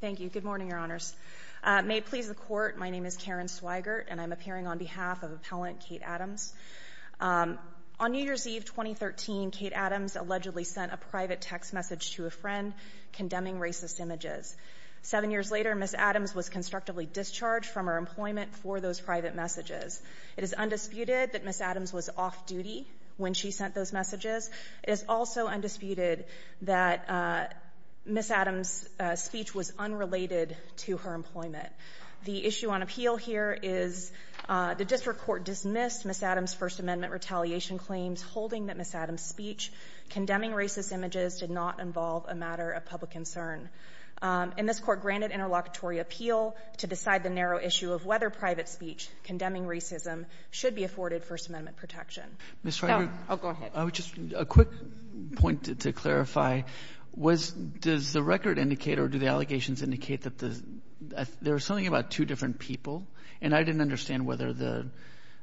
Thank you. Good morning, Your Honors. May it please the Court, my name is Karen Swigert, and I'm appearing on behalf of Appellant Kate Adams. On New Year's Eve 2013, Kate Adams allegedly sent a private text message to a friend condemning racist images. Seven years later, Ms. Adams was constructively discharged from her employment for those private messages. It is undisputed that Ms. Adams was off-duty when she sent those messages. It is also undisputed that Ms. Adams was unrelated to her employment. The issue on appeal here is the district court dismissed Ms. Adams' First Amendment retaliation claims holding that Ms. Adams' speech condemning racist images did not involve a matter of public concern. And this Court granted interlocutory appeal to decide the narrow issue of whether private speech condemning racism should be afforded First Amendment protection. Go ahead. I would just, a quick point to clarify, was, does the record indicate or do the allegations indicate that there's something about two different people? And I didn't understand whether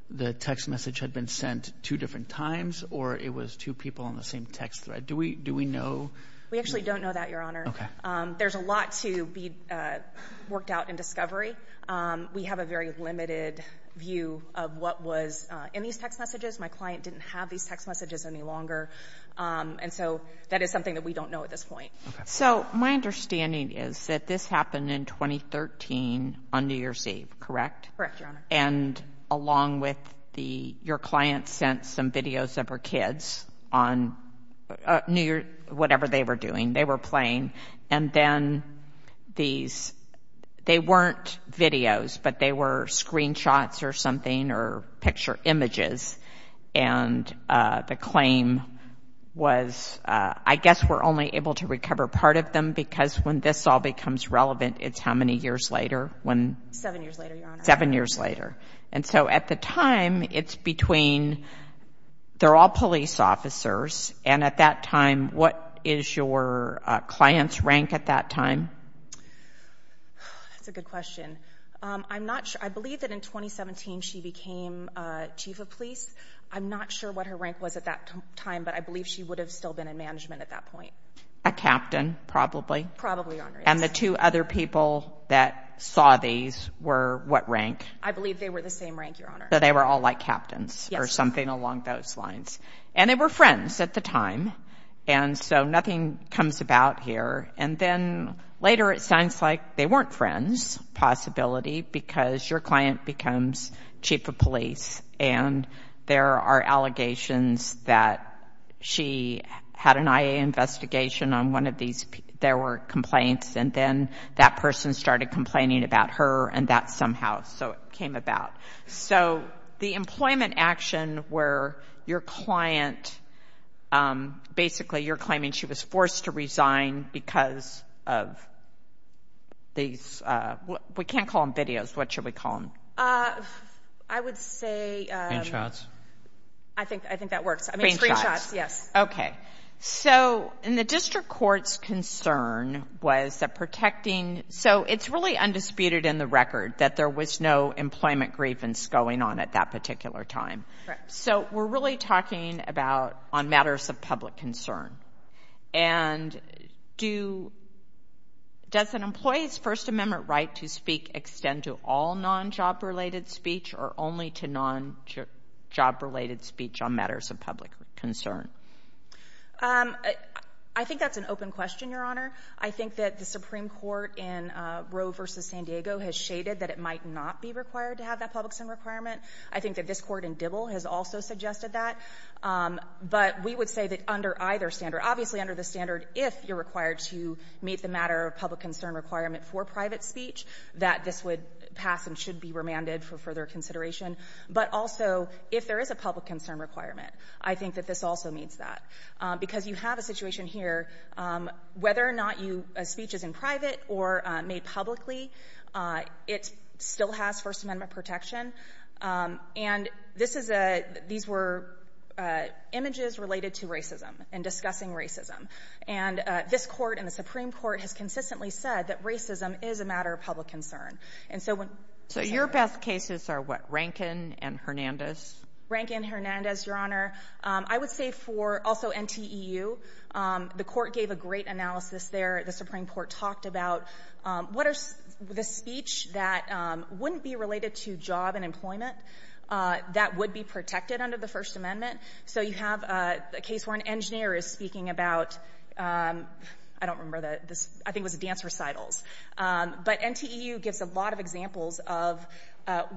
the text message had been sent two different times or it was two people on the same text thread. Do we, do we know? We actually don't know that, Your Honor. Okay. There's a lot to be worked out in discovery. We have a very limited view of what was in these text messages. My client didn't have these text messages any longer. And so that is something that we don't know at this point. Okay. So my understanding is that this happened in 2013 on New Year's Eve, correct? Correct, Your Honor. And along with the, your client sent some videos of her kids on New Year, whatever they were doing, they were playing. And then these, they weren't videos, but they were screenshots or something, or picture images. And the claim was, I guess we're only able to recover part of them because when this all becomes relevant, it's how many years later when? Seven years later, Your Honor. Seven years later. And so at the time, it's between, they're all police officers. And at that time, what is your client's rank at that time? That's a good question. I'm not sure. I believe that in 2017, she became chief of police. I'm not sure what her rank was at that time, but I believe she would have still been in management at that point. A captain, probably. Probably, Your Honor. And the two other people that saw these were what rank? I believe they were the same rank, Your Honor. So they were all like captains or something along those lines. And they were friends at the time. And so nothing comes about here. And then later, it sounds like they weren't friends, possibility, because your client becomes chief of police. And there are allegations that she had an IA investigation on one of these. There were complaints. And then that person started complaining about her and that somehow, so it came about. So the employment action where your client, basically, you're claiming she was forced to resign because of these, we can't call them videos. What should we call them? I would say... Screenshots. I think that works. I mean, screenshots, yes. Okay. So in the district court's concern was that protecting, so it's really undisputed in the record that there was no employment grievance going on at that particular time. So we're really talking about on matters of public concern. And does an employee's First Amendment right to speak extend to all non-job-related speech or only to non-job-related speech on matters of public concern? I think that's an open question, Your Honor. I think that the Supreme Court in Roe v. San Diego has shaded that it might not be required to have that public-sum requirement. I think that this Court in Dibble has also suggested that. But we would say that under either standard, obviously, under the standard, if you're required to meet the matter of public-concern requirement for private speech, that this would pass and should be remanded for further consideration. But also, if there is a public-concern requirement, I think that this also meets that. Because you have a situation here, whether or not you — a speech is in private or made publicly, it still has First Amendment protection. And this is a — these were images related to racism and discussing racism. And this Court and the Supreme Court has consistently said that racism is a matter of public concern. And so when — So your best cases are what, Rankin and Hernandez? Rankin, Hernandez, Your Honor. I would say for — also NTEU. The Court gave a great case where it talked about what are — the speech that wouldn't be related to job and employment that would be protected under the First Amendment. So you have a case where an engineer is speaking about — I don't remember the — I think it was a dance recitals. But NTEU gives a lot of examples of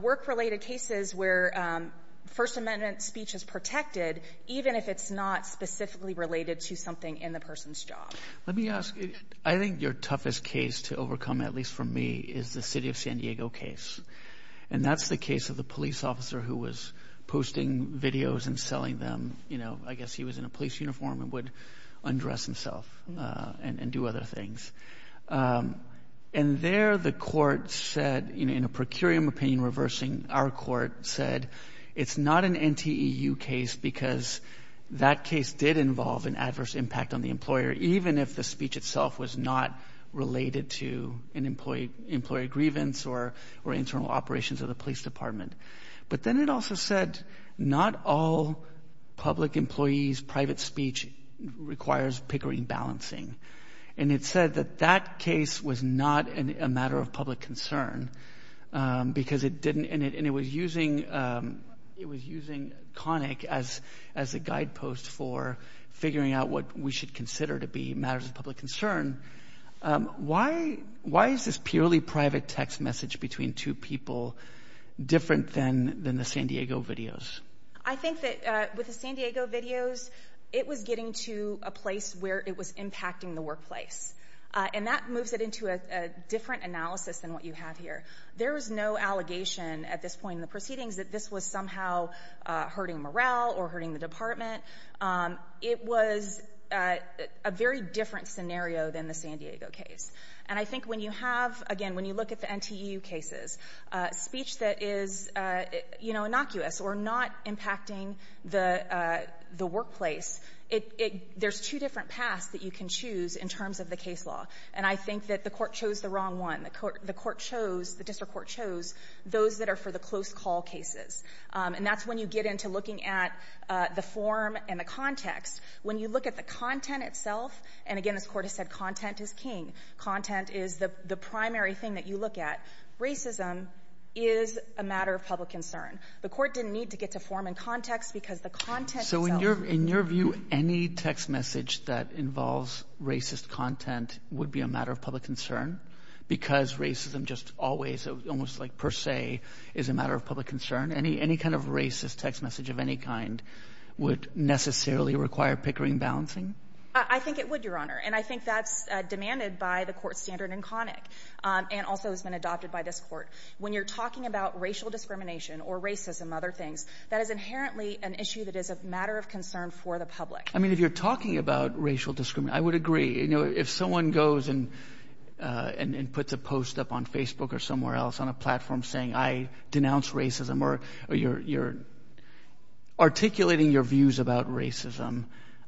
work-related cases where First Amendment speech is protected, even if it's not specifically related to something in the person's job. Let me ask — I think your toughest case to overcome, at least for me, is the city of San Diego case. And that's the case of the police officer who was posting videos and selling them. You know, I guess he was in a police uniform and would undress himself and do other things. And there the Court said, you know, in a procurium opinion reversing our Court, said it's not an NTEU case because that case did involve an adverse impact on the employer, even if the speech itself was not related to an employee — employee grievance or internal operations of the police department. But then it also said not all public employees' private speech requires Pickering balancing. And it said that that case was not a matter of public concern because it didn't — and it was using — it was using Connick as a guidepost for figuring out what we should consider to be matters of public concern. Why is this purely private text message between two people different than the San Diego videos? I think that with the San Diego videos, it was getting to a place where it was impacting the workplace. And that moves it into a different analysis than what you have here. There is no allegation at this point in the proceedings that this was somehow hurting morale or hurting the department. It was a very different scenario than the San Diego case. And I think when you have — again, when you look at the NTEU cases, speech that is, you know, innocuous or not impacting the — the workplace, it — there's two different paths that you can choose in terms of the case law. And I think that the Court chose the wrong one. The Court — the Court chose — the district court chose those that are close call cases. And that's when you get into looking at the form and the context. When you look at the content itself — and again, this Court has said content is king. Content is the primary thing that you look at. Racism is a matter of public concern. The Court didn't need to get to form and context because the content itself — Roberts. So in your — in your view, any text message that involves racist content would be a matter of public concern because racism just always, almost like per se, is a matter of public concern? Any — any kind of racist text message of any kind would necessarily require pickering balancing? I think it would, Your Honor. And I think that's demanded by the Court's standard in Connick and also has been adopted by this Court. When you're talking about racial discrimination or racism, other things, that is inherently an issue that is a matter of concern for the public. I mean, if you're talking about racial discrimination, I would agree. You know, if someone goes and — and puts a post up on Facebook or somewhere else on a platform saying, I denounce racism, or you're articulating your views about racism,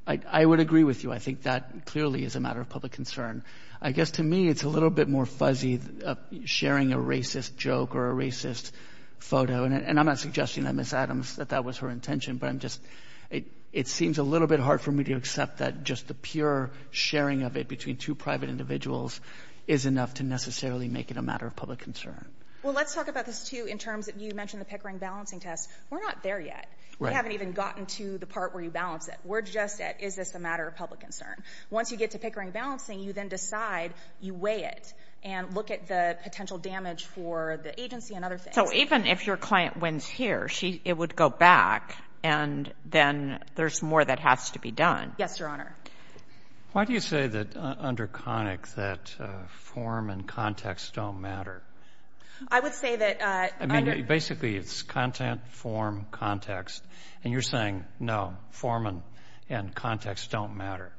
I would agree with you. I think that clearly is a matter of public concern. I guess to me, it's a little bit more fuzzy sharing a racist joke or a racist photo. And I'm not suggesting that Ms. Adams — that that was her intention, but I'm just — it seems a little bit hard for me to accept that just the pure sharing of it between two private individuals is enough to necessarily make it a matter of public concern. Well, let's talk about this, too, in terms — you mentioned the Pickering balancing test. We're not there yet. Right. We haven't even gotten to the part where you balance it. We're just at, is this a matter of public concern? Once you get to Pickering balancing, you then decide you weigh it and look at the potential damage for the agency and other things. So even if your client wins here, she — it would go back, and then there's more that has to be done. Yes, Your Honor. Why do you say that under CONIC that form and context don't matter? I would say that — I mean, basically, it's content, form, context. And you're saying, no, form and context don't matter.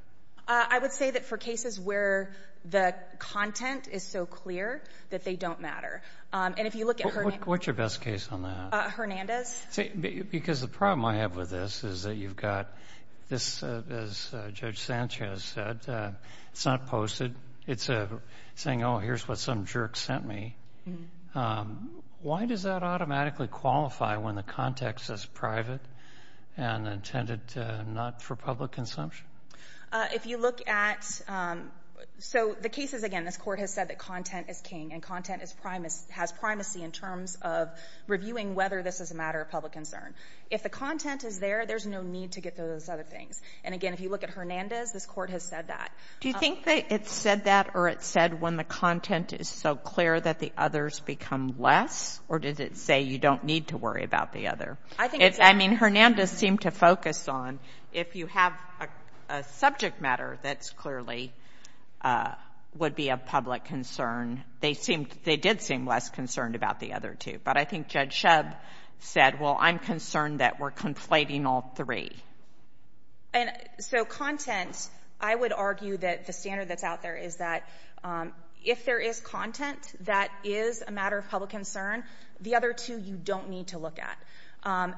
I would say that for cases where the content is so clear that they don't matter. And if you look at — What's your best case on that? Hernandez. Because the problem I have with this is that you've got this, as Judge Sanchez said, it's not posted. It's saying, oh, here's what some jerk sent me. Why does that automatically qualify when the context is private and intended not for public consumption? If you look at — so the cases, again, this Court has said that content is king, and content has primacy in terms of reviewing whether this is a matter of public concern. If the content is there, there's no need to get to those other things. And again, if you look at Hernandez, this Court has said that. Do you think that it said that or it said when the content is so clear that the others become less? Or did it say you don't need to worry about the other? I think it's — I mean, Hernandez seemed to focus on if you have a subject matter that's clearly a — would be a public concern. They seemed — they did seem less concerned about the other two. But I think Judge Shub said, well, I'm concerned that we're conflating all three. And so content, I would argue that the standard that's out there is that if there is content that is a matter of public concern, the other two you don't need to look at.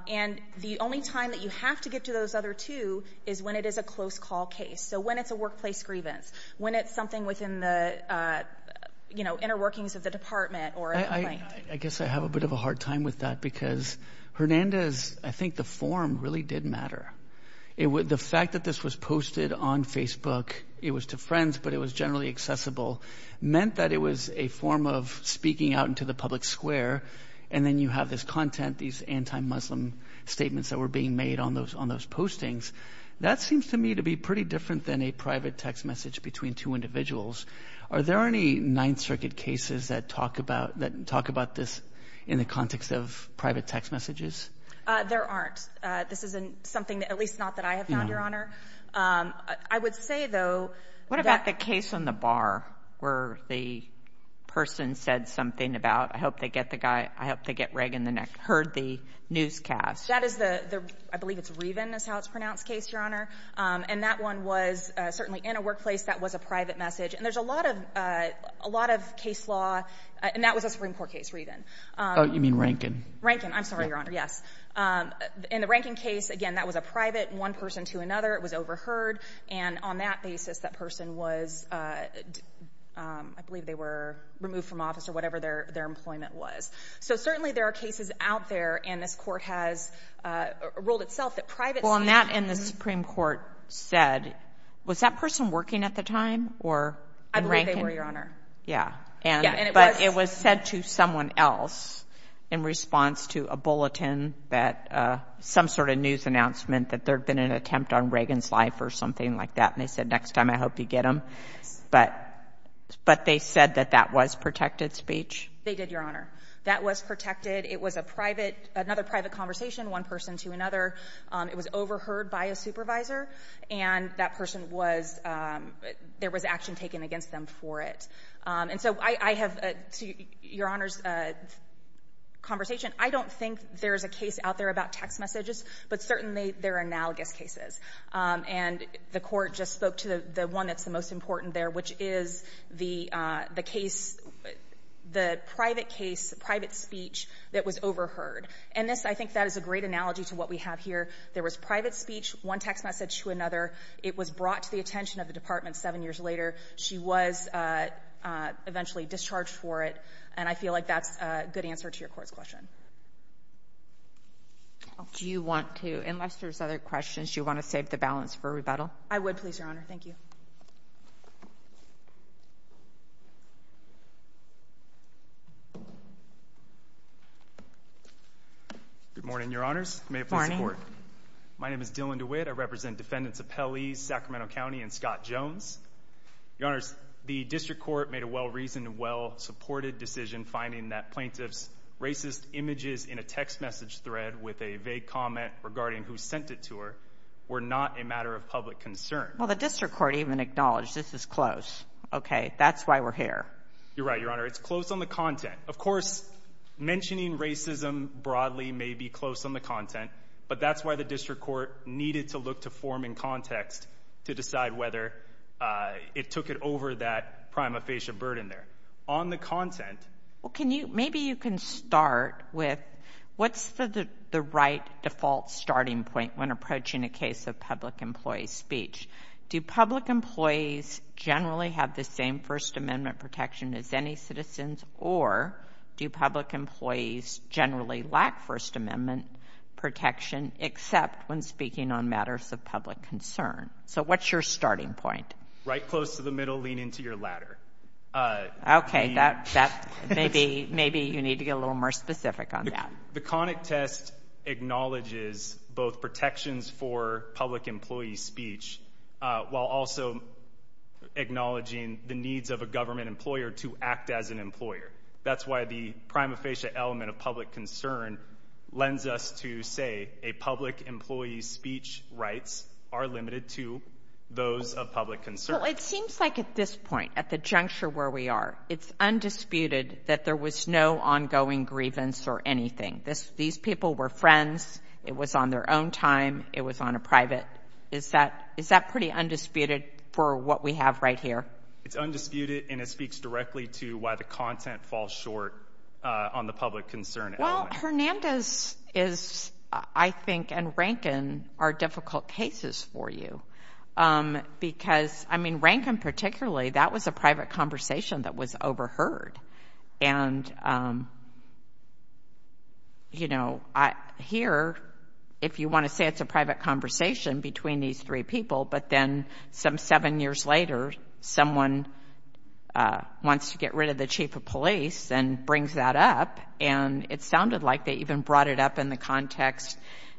And the only time that you have to get to those other two is when it is a close call case. So when it's a workplace grievance, when it's something within the, you know, inner workings of the department or a complaint. I guess I have a bit of a hard time with that because Hernandez, I think the form really did matter. The fact that this was posted on Facebook — it was to friends, but it was generally accessible — meant that it was a form of speaking out into the public square, and then you have this content, these anti-Muslim statements that were being made on those postings. That seems to me to be pretty different than a private text message between two individuals. Are there any Ninth Circuit cases that talk about this in the context of private text messages? There aren't. This isn't something — at least not that I have found, Your Honor. I would say, though — What about the case on the bar where the person said something about, I hope they get the guy — I hope they get Reagan the next — heard the newscast? That is the — I believe it's Reagan is how it's pronounced — case, Your Honor. And that one was certainly in a workplace that was a private message. And there's a lot of case law — and that was a Supreme Court case, Reagan. Oh, you mean Rankin. Rankin. I'm sorry, Your Honor. Yes. In the Rankin case, again, that was a private one person to another. It was overheard. And on that basis, that person was — I believe they were removed from office or whatever their employment was. So certainly there are cases out there, and this court has ruled itself that private speech — Well, and that in the Supreme Court said — was that person working at the time or in Rankin? I believe they were, Your Honor. Yeah. Yeah, and it was — But it was said to someone else in response to a bulletin that — some sort of news announcement that there had been an attempt on Reagan's life or something like that. And they said, next time, I hope you get him. But they said that that was protected speech? They did, Your Honor. That was protected. It was a private — another private conversation, one person to another. It was overheard by a supervisor, and that person was — there was action taken against them for it. And so I have — to Your Honor's conversation, I don't think there's a case out there about text messages, but certainly there are analogous cases. And the court just spoke to the one that's the most important there, which is the case — the private case, the private speech that was overheard. And this — I think that is a great analogy to what we have here. There was private speech, one text message to another. It was brought to the attention of the Department seven years later. She was eventually discharged for it. And I feel like that's a good answer to your court's question. Do you want to — unless there's other questions, do you want to save the balance for rebuttal? I would, please, Your Honor. Thank you. Good morning, Your Honors. May it please the court. My name is Dylan DeWitt. I represent defendants of Pelley, Sacramento County, and Scott Jones. Your Honors, the district court made a well-reasoned and well-supported decision finding that plaintiff's racist images in a text message thread with a vague comment regarding who sent it to her were not a matter of public concern. Well, the district court even acknowledged, this is close. Okay. That's why we're here. You're right, Your Honor. It's close on the content. Of course, mentioning racism broadly may be close on the content, but that's why the district court needed to look to form and context to decide whether it took it over that prima facie burden there. On the content — Well, can you — maybe you can start with what's the right default starting point when approaching a case of public employee speech? Do public employees generally have the same First Amendment protection as any citizens, or do public employees generally lack First Amendment protection except when speaking on matters of public concern? So, what's your starting point? Right close to the middle. Lean into your ladder. Okay. Maybe you need to get a little more specific on that. The conic test acknowledges both protections for public employee speech while also acknowledging the needs of a government employer to act as an employer. That's why the prima facie element of public concern lends us to say a public employee's speech rights are limited to those of public concern. It seems like at this point, at the juncture where we are, it's undisputed that there was no ongoing grievance or anything. These people were friends. It was on their own time. It was on a private — is that pretty undisputed for what we have right here? It's undisputed, and it speaks directly to why the content falls short on the public concern. Well, Hernandez is, I think, and Rankin are difficult cases for you, because, I mean, Rankin particularly, that was a private conversation that was overheard. And, you know, here, if you want to say it's a private conversation between these three people, but then some seven years later, someone wants to get rid of the chief of police and brings that up, and it sounded like they even brought it up in the context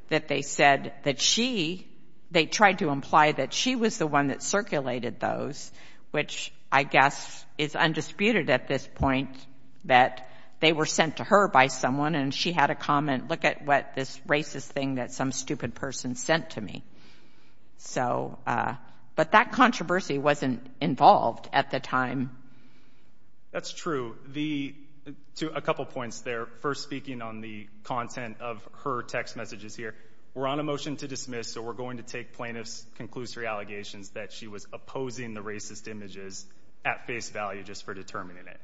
that they said that she — they tried to imply that she was the one that circulated those, which I guess is undisputed at this point, that they were sent to her by someone, and she had a comment, look at what this racist thing that some stupid person sent to me. So, but that controversy wasn't involved at the time. That's true. The — a couple points there. First, speaking on the content of her text messages here, we're on a motion to dismiss, so we're going to take plaintiff's conclusory allegations that she was opposing the racist images at face value, just for determining it.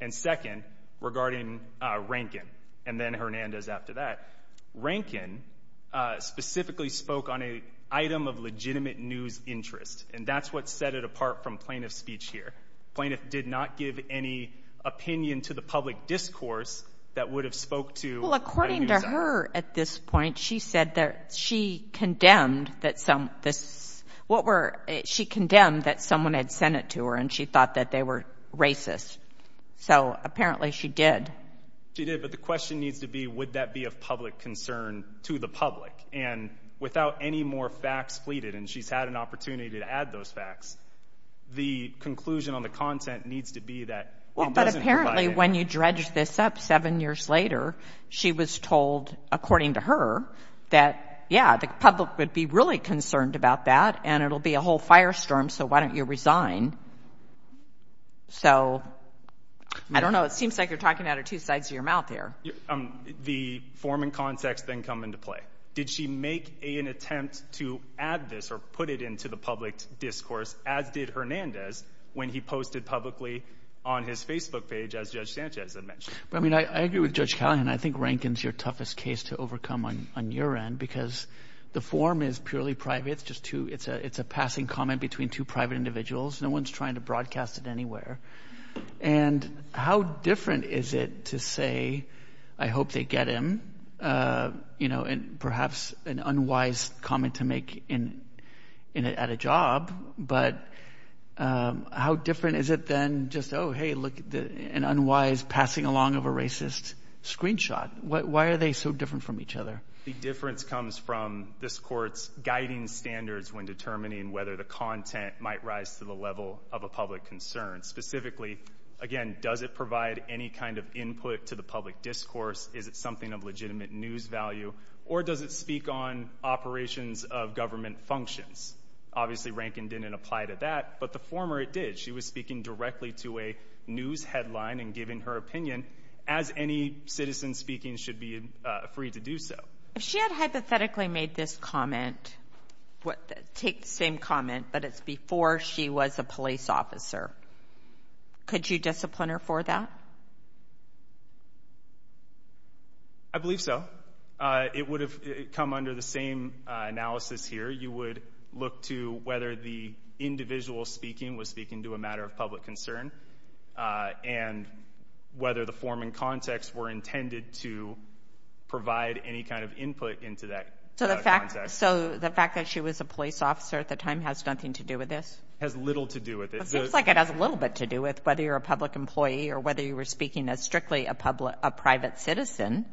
And second, regarding Rankin, and then Hernandez after that, Rankin specifically spoke on an item of legitimate news interest, and that's what set it apart from plaintiff's speech here. Plaintiff did not give any opinion to the public discourse that would have spoke to — Well, according to her at this point, she said that she condemned that some — this — what were — she condemned that someone had sent it to her, and she thought that they were racist. So, apparently, she did. She did, but the question needs to be, would that be of public concern to the public? And without any more facts pleaded, and she's had an opportunity to add those facts, the conclusion on the content needs to be that it doesn't provide — Well, but apparently, when you dredge this up seven years later, she was told, according to her, that, yeah, the public would be really concerned about that, and it'll be a whole firestorm, so why don't you resign? So, I don't know. It seems like you're talking out of two sides of your mouth here. The form and context then come into play. Did she make an attempt to add this or put it into the public discourse, as did Hernandez, when he posted publicly on his Facebook page, as Judge Sanchez had mentioned? But, I mean, I agree with Judge Callahan. I think Rankin's your toughest case to overcome on your end, because the form is purely private. It's just two — it's a passing comment between two private individuals. No one's trying to broadcast it anywhere. And how different is it to say, I hope they get him, you know, and perhaps an unwise comment to make at a job, but how different is it than just, oh, hey, look, an unwise passing along of a racist screenshot? Why are they so different from each other? The difference comes from this Court's guiding standards when determining whether the content might rise to the level of a public concern. Specifically, again, does it provide any kind of input to the public discourse? Is it something of legitimate news value? Or does it speak on But the former, it did. She was speaking directly to a news headline and giving her opinion, as any citizen speaking should be free to do so. If she had hypothetically made this comment, take the same comment, but it's before she was a police officer, could you discipline her for that? I believe so. It would have come under the same analysis here. You would look to whether the individual speaking was speaking to a matter of public concern and whether the form and context were intended to provide any kind of input into that. So the fact that she was a police officer at the time has nothing to do with this? Has little to do with it. It seems like it has a little bit to do with whether you're a public employee or whether you were speaking as strictly a private citizen.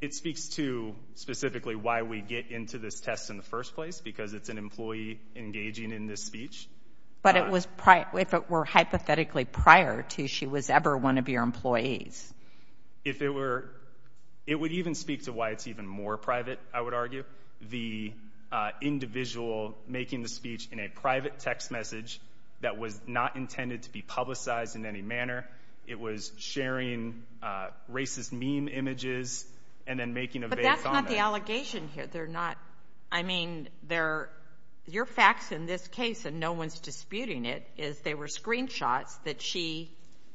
It speaks to specifically why we get into this test in the first place, because it's an employee engaging in this speech. But if it were hypothetically prior to she was ever one of your employees? If it were, it would even speak to why it's even more private, I would argue. The individual making the speech in a private text message that was not intended to be publicized in any manner. It was sharing racist meme images and then making a base on that. The allegation here, they're not, I mean, they're, your facts in this case, and no one's disputing it, is they were screenshots that she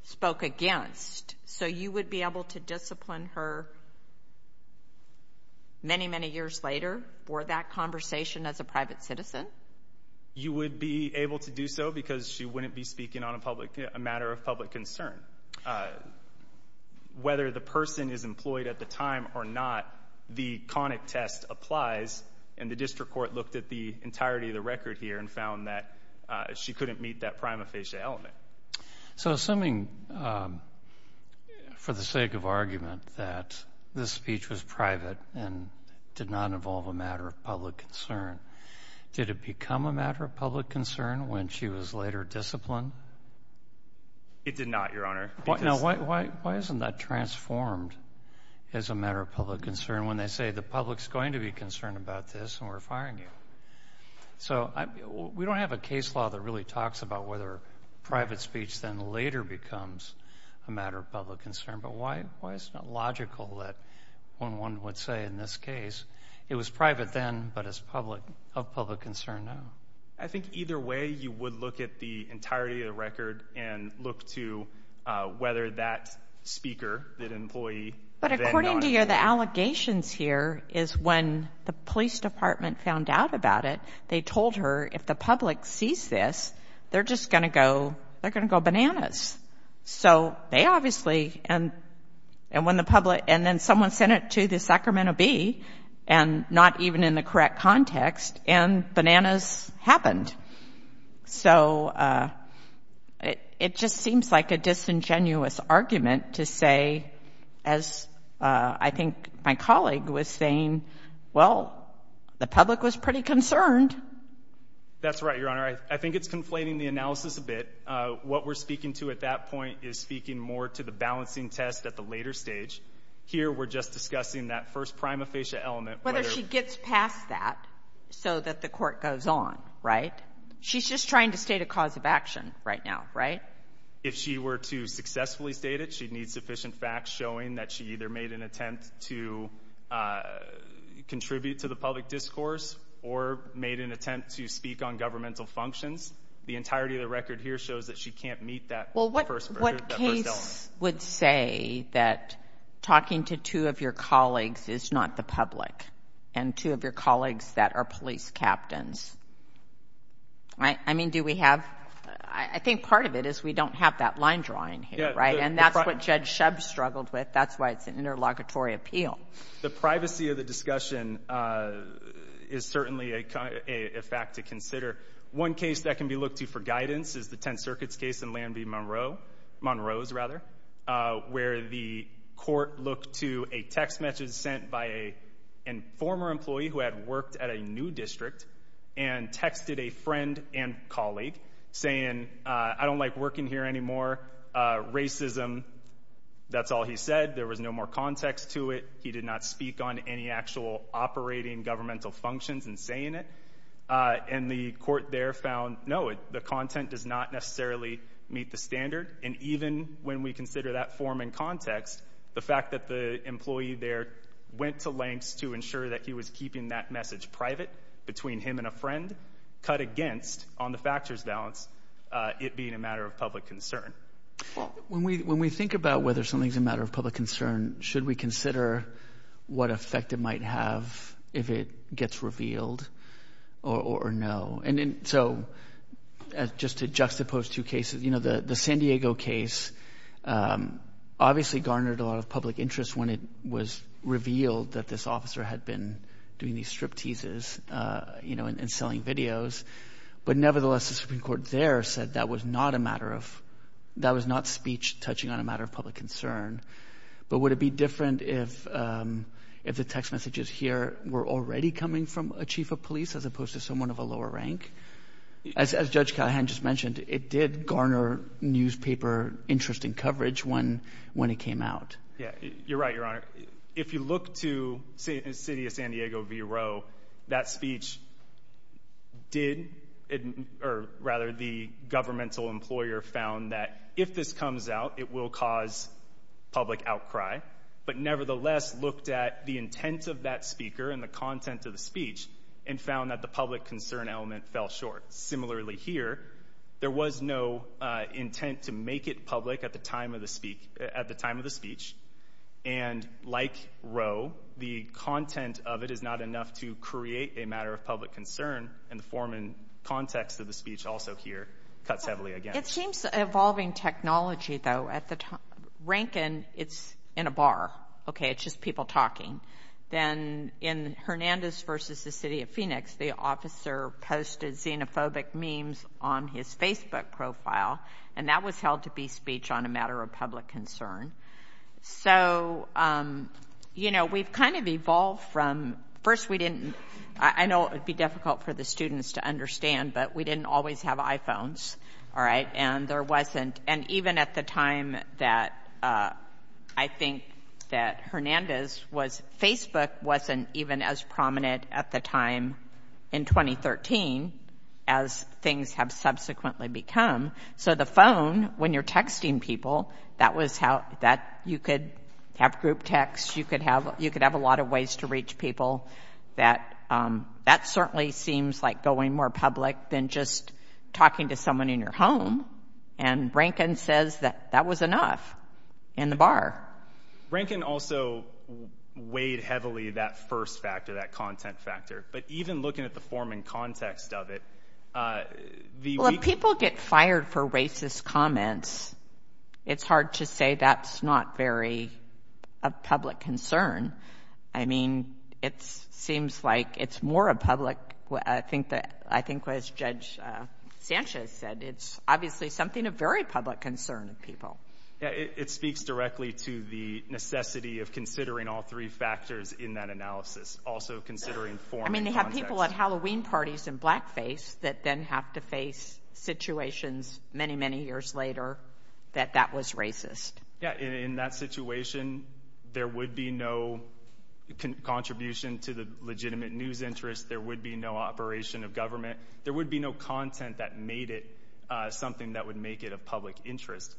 spoke against. So you would be able to discipline her many, many years later for that conversation as a private citizen? You would be able to do so because she wouldn't be speaking on a matter of public concern. And whether the person is employed at the time or not, the conic test applies. And the district court looked at the entirety of the record here and found that she couldn't meet that prima facie element. So assuming, for the sake of argument, that this speech was private and did not involve a matter of public concern, did it become a matter of public concern when she was later disciplined? It did not, Your Honor. Now, why isn't that transformed as a matter of public concern when they say the public's going to be concerned about this and we're firing you? So we don't have a case law that really talks about whether private speech then later becomes a matter of public concern. But why is it not logical that when one would say in this case, it was private then, but it's of public concern now? I think either way, you would look at the entirety of the record and look to whether that speaker, that employee... But according to you, the allegations here is when the police department found out about it, they told her if the public sees this, they're just going to go bananas. So they obviously... And then someone sent it to the Sacramento Bee, and not even in the correct context, and bananas happened. So it just seems like a disingenuous argument to say, as I think my colleague was saying, well, the public was pretty concerned. That's right, Your Honor. I think it's conflating the analysis a bit. What we're speaking to at that point is speaking more to the balancing test at the later stage. Here, we're just discussing that first prima facie element. Whether she gets past that. So that the court goes on, right? She's just trying to state a cause of action right now, right? If she were to successfully state it, she'd need sufficient facts showing that she either made an attempt to contribute to the public discourse, or made an attempt to speak on governmental functions. The entirety of the record here shows that she can't meet that first element. What case would say that talking to two of your colleagues is not the public, and two of your colleagues that are police captains? I mean, do we have? I think part of it is we don't have that line drawing here, right? And that's what Judge Shub struggled with. That's why it's an interlocutory appeal. The privacy of the discussion is certainly a fact to consider. One case that can be looked to for guidance is the 10th Circuit's case in Lanby, Monroe. Monroe's, rather. Where the court looked to a text message sent by a former employee who had worked at a new district, and texted a friend and colleague saying, I don't like working here anymore. Racism. That's all he said. There was no more context to it. He did not speak on any actual operating governmental functions in saying it. And the court there found, no, the content does not necessarily meet the standard. And even when we consider that form and context, the fact that the employee there went to lengths to ensure that he was keeping that message private between him and a friend, cut against on the factors balance, it being a matter of public concern. When we think about whether something's a matter of public concern, should we consider what effect it might have if it gets revealed or no? So just to juxtapose two cases, the San Diego case obviously garnered a lot of public interest when it was revealed that this officer had been doing these strip teases and selling videos. But nevertheless, the Supreme Court there said that was not a matter of, that was not speech touching on a matter of public concern. But would it be different if the text messages here were already coming from a chief of police as opposed to someone of a lower rank? As Judge Callahan just mentioned, it did garner newspaper interest and coverage when it came out. Yeah, you're right, Your Honor. If you look to City of San Diego v. Roe, that speech did, or rather the governmental employer found that if this comes out, it will cause public outcry, but nevertheless looked at the intent of that speaker and the content of the speech and found that the public concern element fell short. Similarly here, there was no intent to make it public at the time of the speech. And like Roe, the content of it is not enough to create a matter of public concern, and the form and context of the speech also here cuts heavily against. It seems evolving technology, though. At the time, Rankin, it's in a bar. Okay, it's just people talking. Then in Hernandez v. The City of Phoenix, the officer posted xenophobic memes on his Facebook profile, and that was held to be speech on a matter of public concern. So, you know, we've kind of evolved from, first we didn't, I know it would be difficult for the students to understand, but we didn't always have iPhones, all right, and there wasn't, and even at the time that I think that Hernandez was, Facebook wasn't even as prominent at the time in 2013 as things have subsequently become. So the phone, when you're texting people, that was how, that you could have group text, you could have, you could have a lot of ways to reach people. That certainly seems like going more public than just talking to someone in your home and Rankin says that that was enough in the bar. Rankin also weighed heavily that first factor, that content factor, but even looking at the form and context of it, the- Well, if people get fired for racist comments, it's hard to say that's not very a public concern. I mean, it seems like it's more a public, I think that, I think as Judge Sanchez said, it's obviously something of very public concern of people. Yeah, it speaks directly to the necessity of considering all three factors in that analysis, also considering form and context. I mean, they have people at Halloween parties in blackface that then have to face situations many, many years later that that was racist. Yeah, in that situation, there would be no contribution to the legitimate news interest, there would be no operation of government, there would be no content that made it something that would make it a public interest.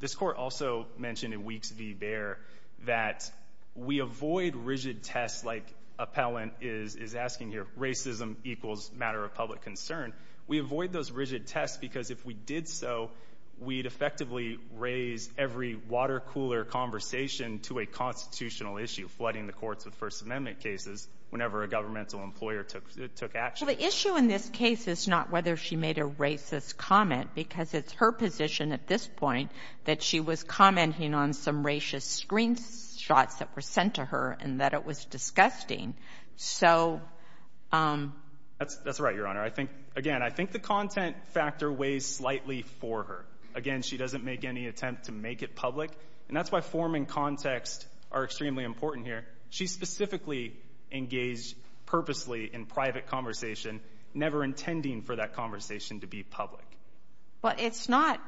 This Court also mentioned in Weeks v. Baer that we avoid rigid tests like Appellant is asking here, racism equals matter of public concern. We avoid those rigid tests because if we did so, we'd effectively raise every water cooler conversation to a constitutional issue, flooding the courts with First Amendment cases whenever a governmental employer took action. The issue in this case is not whether she made a racist comment because it's her position at this point that she was commenting on some racist screenshots that were sent to her and that it was disgusting. That's right, Your Honor. I think, again, I think the content factor weighs slightly for her. Again, she doesn't make any attempt to make it public, and that's why form and context are extremely important here. She specifically engaged purposely in private conversation, never intending for that conversation to be public. But it's not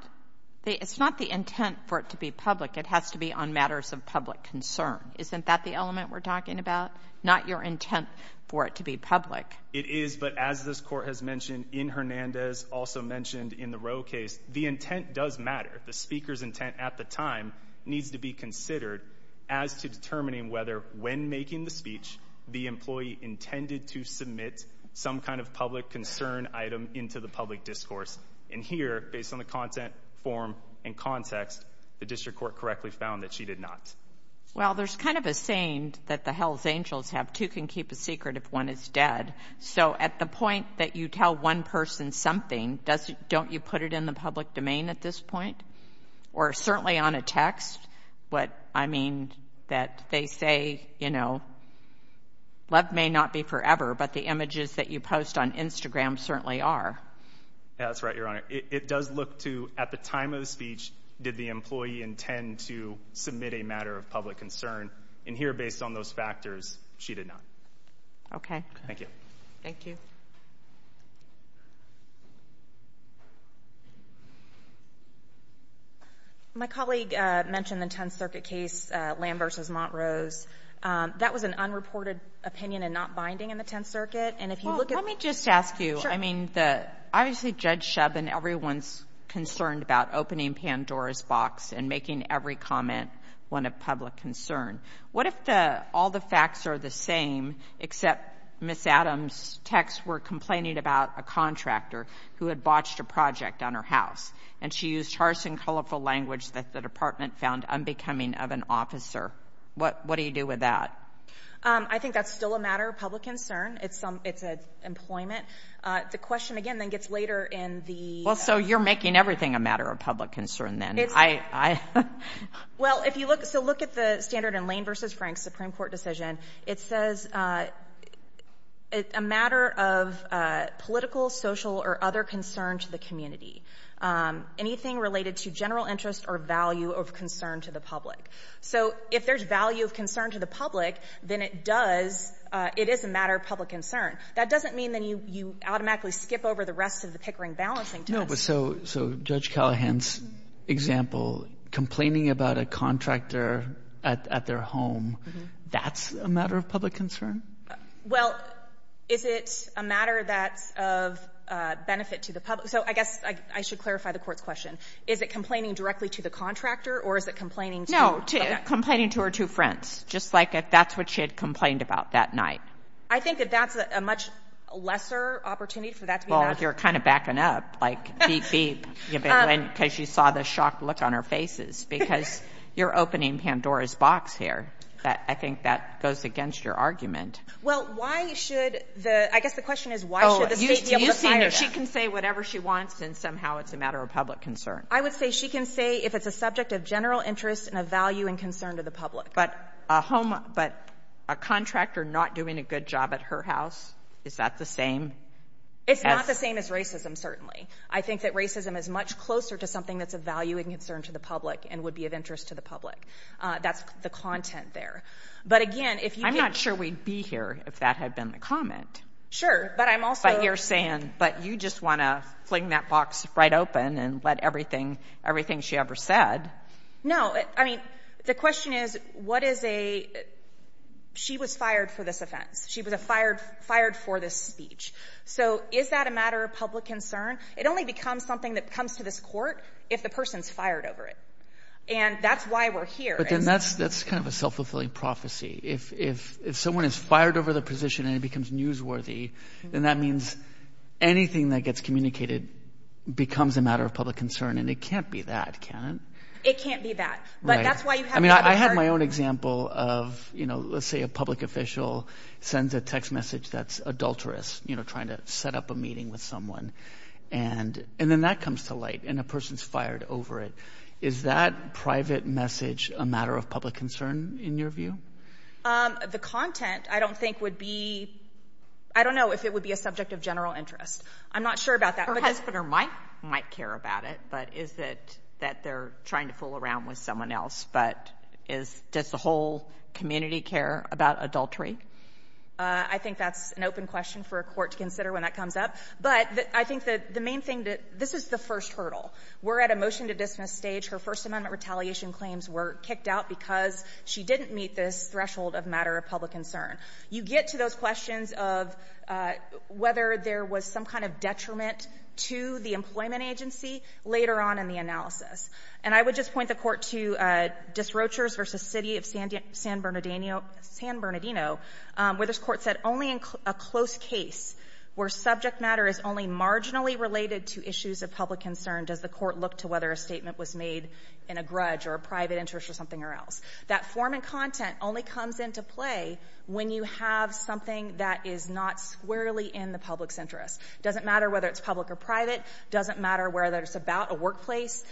the intent for it to be public. It has to be on matters of public concern. Isn't that the element we're talking about? Not your intent for it to be public. It is, but as this Court has mentioned in Hernandez, also mentioned in the Roe case, the intent does matter. The speaker's intent at the time needs to be considered as to determining whether when making the speech the employee intended to submit some kind of public concern item into the public discourse. And here, based on the content, form, and context, the district court correctly found that she did not. Well, there's kind of a saying that the Hell's Angels have, two can keep a secret if one is dead. So at the point that you tell one person something, doesn't — don't you put it in the public domain at this point? Or certainly on a text, but I mean that they say, you know, love may not be forever, but the images that you post on Instagram certainly are. That's right, Your Honor. It does look to, at the time of the speech, did the employee intend to submit a matter of public concern? And here, based on those factors, she did not. Okay. Thank you. Thank you. My colleague mentioned the Tenth Circuit case, Lamb v. Montrose. That was an unreported opinion and not binding in the Tenth Circuit. And if you look at — Well, let me just ask you. I mean, the — obviously, Judge Shub and everyone's concerned about opening Pandora's box and making every comment one of public concern. What if the — all the facts are the same, except Ms. Adams' texts were complaining about a contractor who had botched a project on her house, and she used harsh and colorful language that the department found unbecoming of an officer? What — what do you do with that? I think that's still a matter of public concern. It's some — it's employment. The question, again, then gets later in the — Well, so you're making everything a matter of public concern, then. I — Well, if you look — so look at the standard in Lane v. Frank's Supreme Court decision. It says a matter of political, social, or other concern to the community. Anything related to general interest or value of concern to the public. So if there's value of concern to the public, then it does — it is a matter of public concern. That doesn't mean that you automatically skip over the rest of the Pickering balancing test. So Judge Callahan's example, complaining about a contractor at their home, that's a matter of public concern? Well, is it a matter that's of benefit to the public? So I guess I should clarify the Court's question. Is it complaining directly to the contractor, or is it complaining to — No, to — complaining to her two friends, just like if that's what she had complained about that night. You're kind of backing up. Like, beep, beep, because you saw the shocked look on her faces, because you're opening Pandora's box here. I think that goes against your argument. Well, why should the — I guess the question is, why should the State be able to fire them? She can say whatever she wants, and somehow it's a matter of public concern. I would say she can say if it's a subject of general interest and of value and concern to the public. But a home — but a contractor not doing a good job at her house, is that the same as — It's not the same as racism, certainly. I think that racism is much closer to something that's of value and concern to the public and would be of interest to the public. That's the content there. But again, if you can — I'm not sure we'd be here if that had been the comment. Sure, but I'm also — But you're saying, but you just want to fling that box right open and let everything — everything she ever said — No, I mean, the question is, what is a — she was fired for this offense. She was fired for this speech. So is that a matter of public concern? It only becomes something that comes to this court if the person's fired over it. And that's why we're here. But then that's kind of a self-fulfilling prophecy. If someone is fired over the position and it becomes newsworthy, then that means anything that gets communicated becomes a matter of public concern. And it can't be that, can it? It can't be that. But that's why you have — I mean, I had my own example of, you know, let's say a public official sends a text that's adulterous, you know, trying to set up a meeting with someone. And then that comes to light, and a person's fired over it. Is that private message a matter of public concern, in your view? The content, I don't think, would be — I don't know if it would be a subject of general interest. I'm not sure about that. Her husband might care about it, but is it that they're trying to fool around with someone else? But is — does the whole community care about adultery? I think that's an open question for a court to consider when that comes up. But I think that the main thing that — this is the first hurdle. We're at a motion-to-dismiss stage. Her First Amendment retaliation claims were kicked out because she didn't meet this threshold of matter of public concern. You get to those questions of whether there was some kind of detriment to the employment agency later on in the analysis. And I would just point the Court to Disrochers v. City of San Bernardino, where this Court said only in a close case where subject matter is only marginally related to issues of public concern does the Court look to whether a statement was made in a grudge or a private interest or something or else. That form and content only comes into play when you have something that is not squarely in the public's interest. It doesn't matter whether it's public or private. It doesn't matter whether it's about a workplace.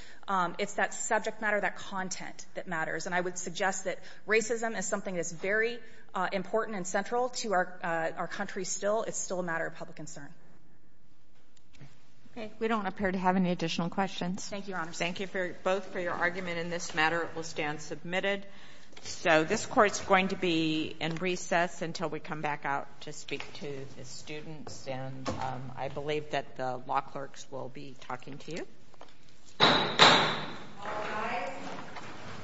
It's that subject matter, that content that matters. And I would suggest that racism is something that's very important and central to our country still. It's still a matter of public concern. Okay. We don't appear to have any additional questions. Thank you, Your Honor. Thank you both for your argument in this matter. It will stand submitted. So this Court's going to be in recess until we come back out to speak to the students. And I believe that the law clerks will be talking to you.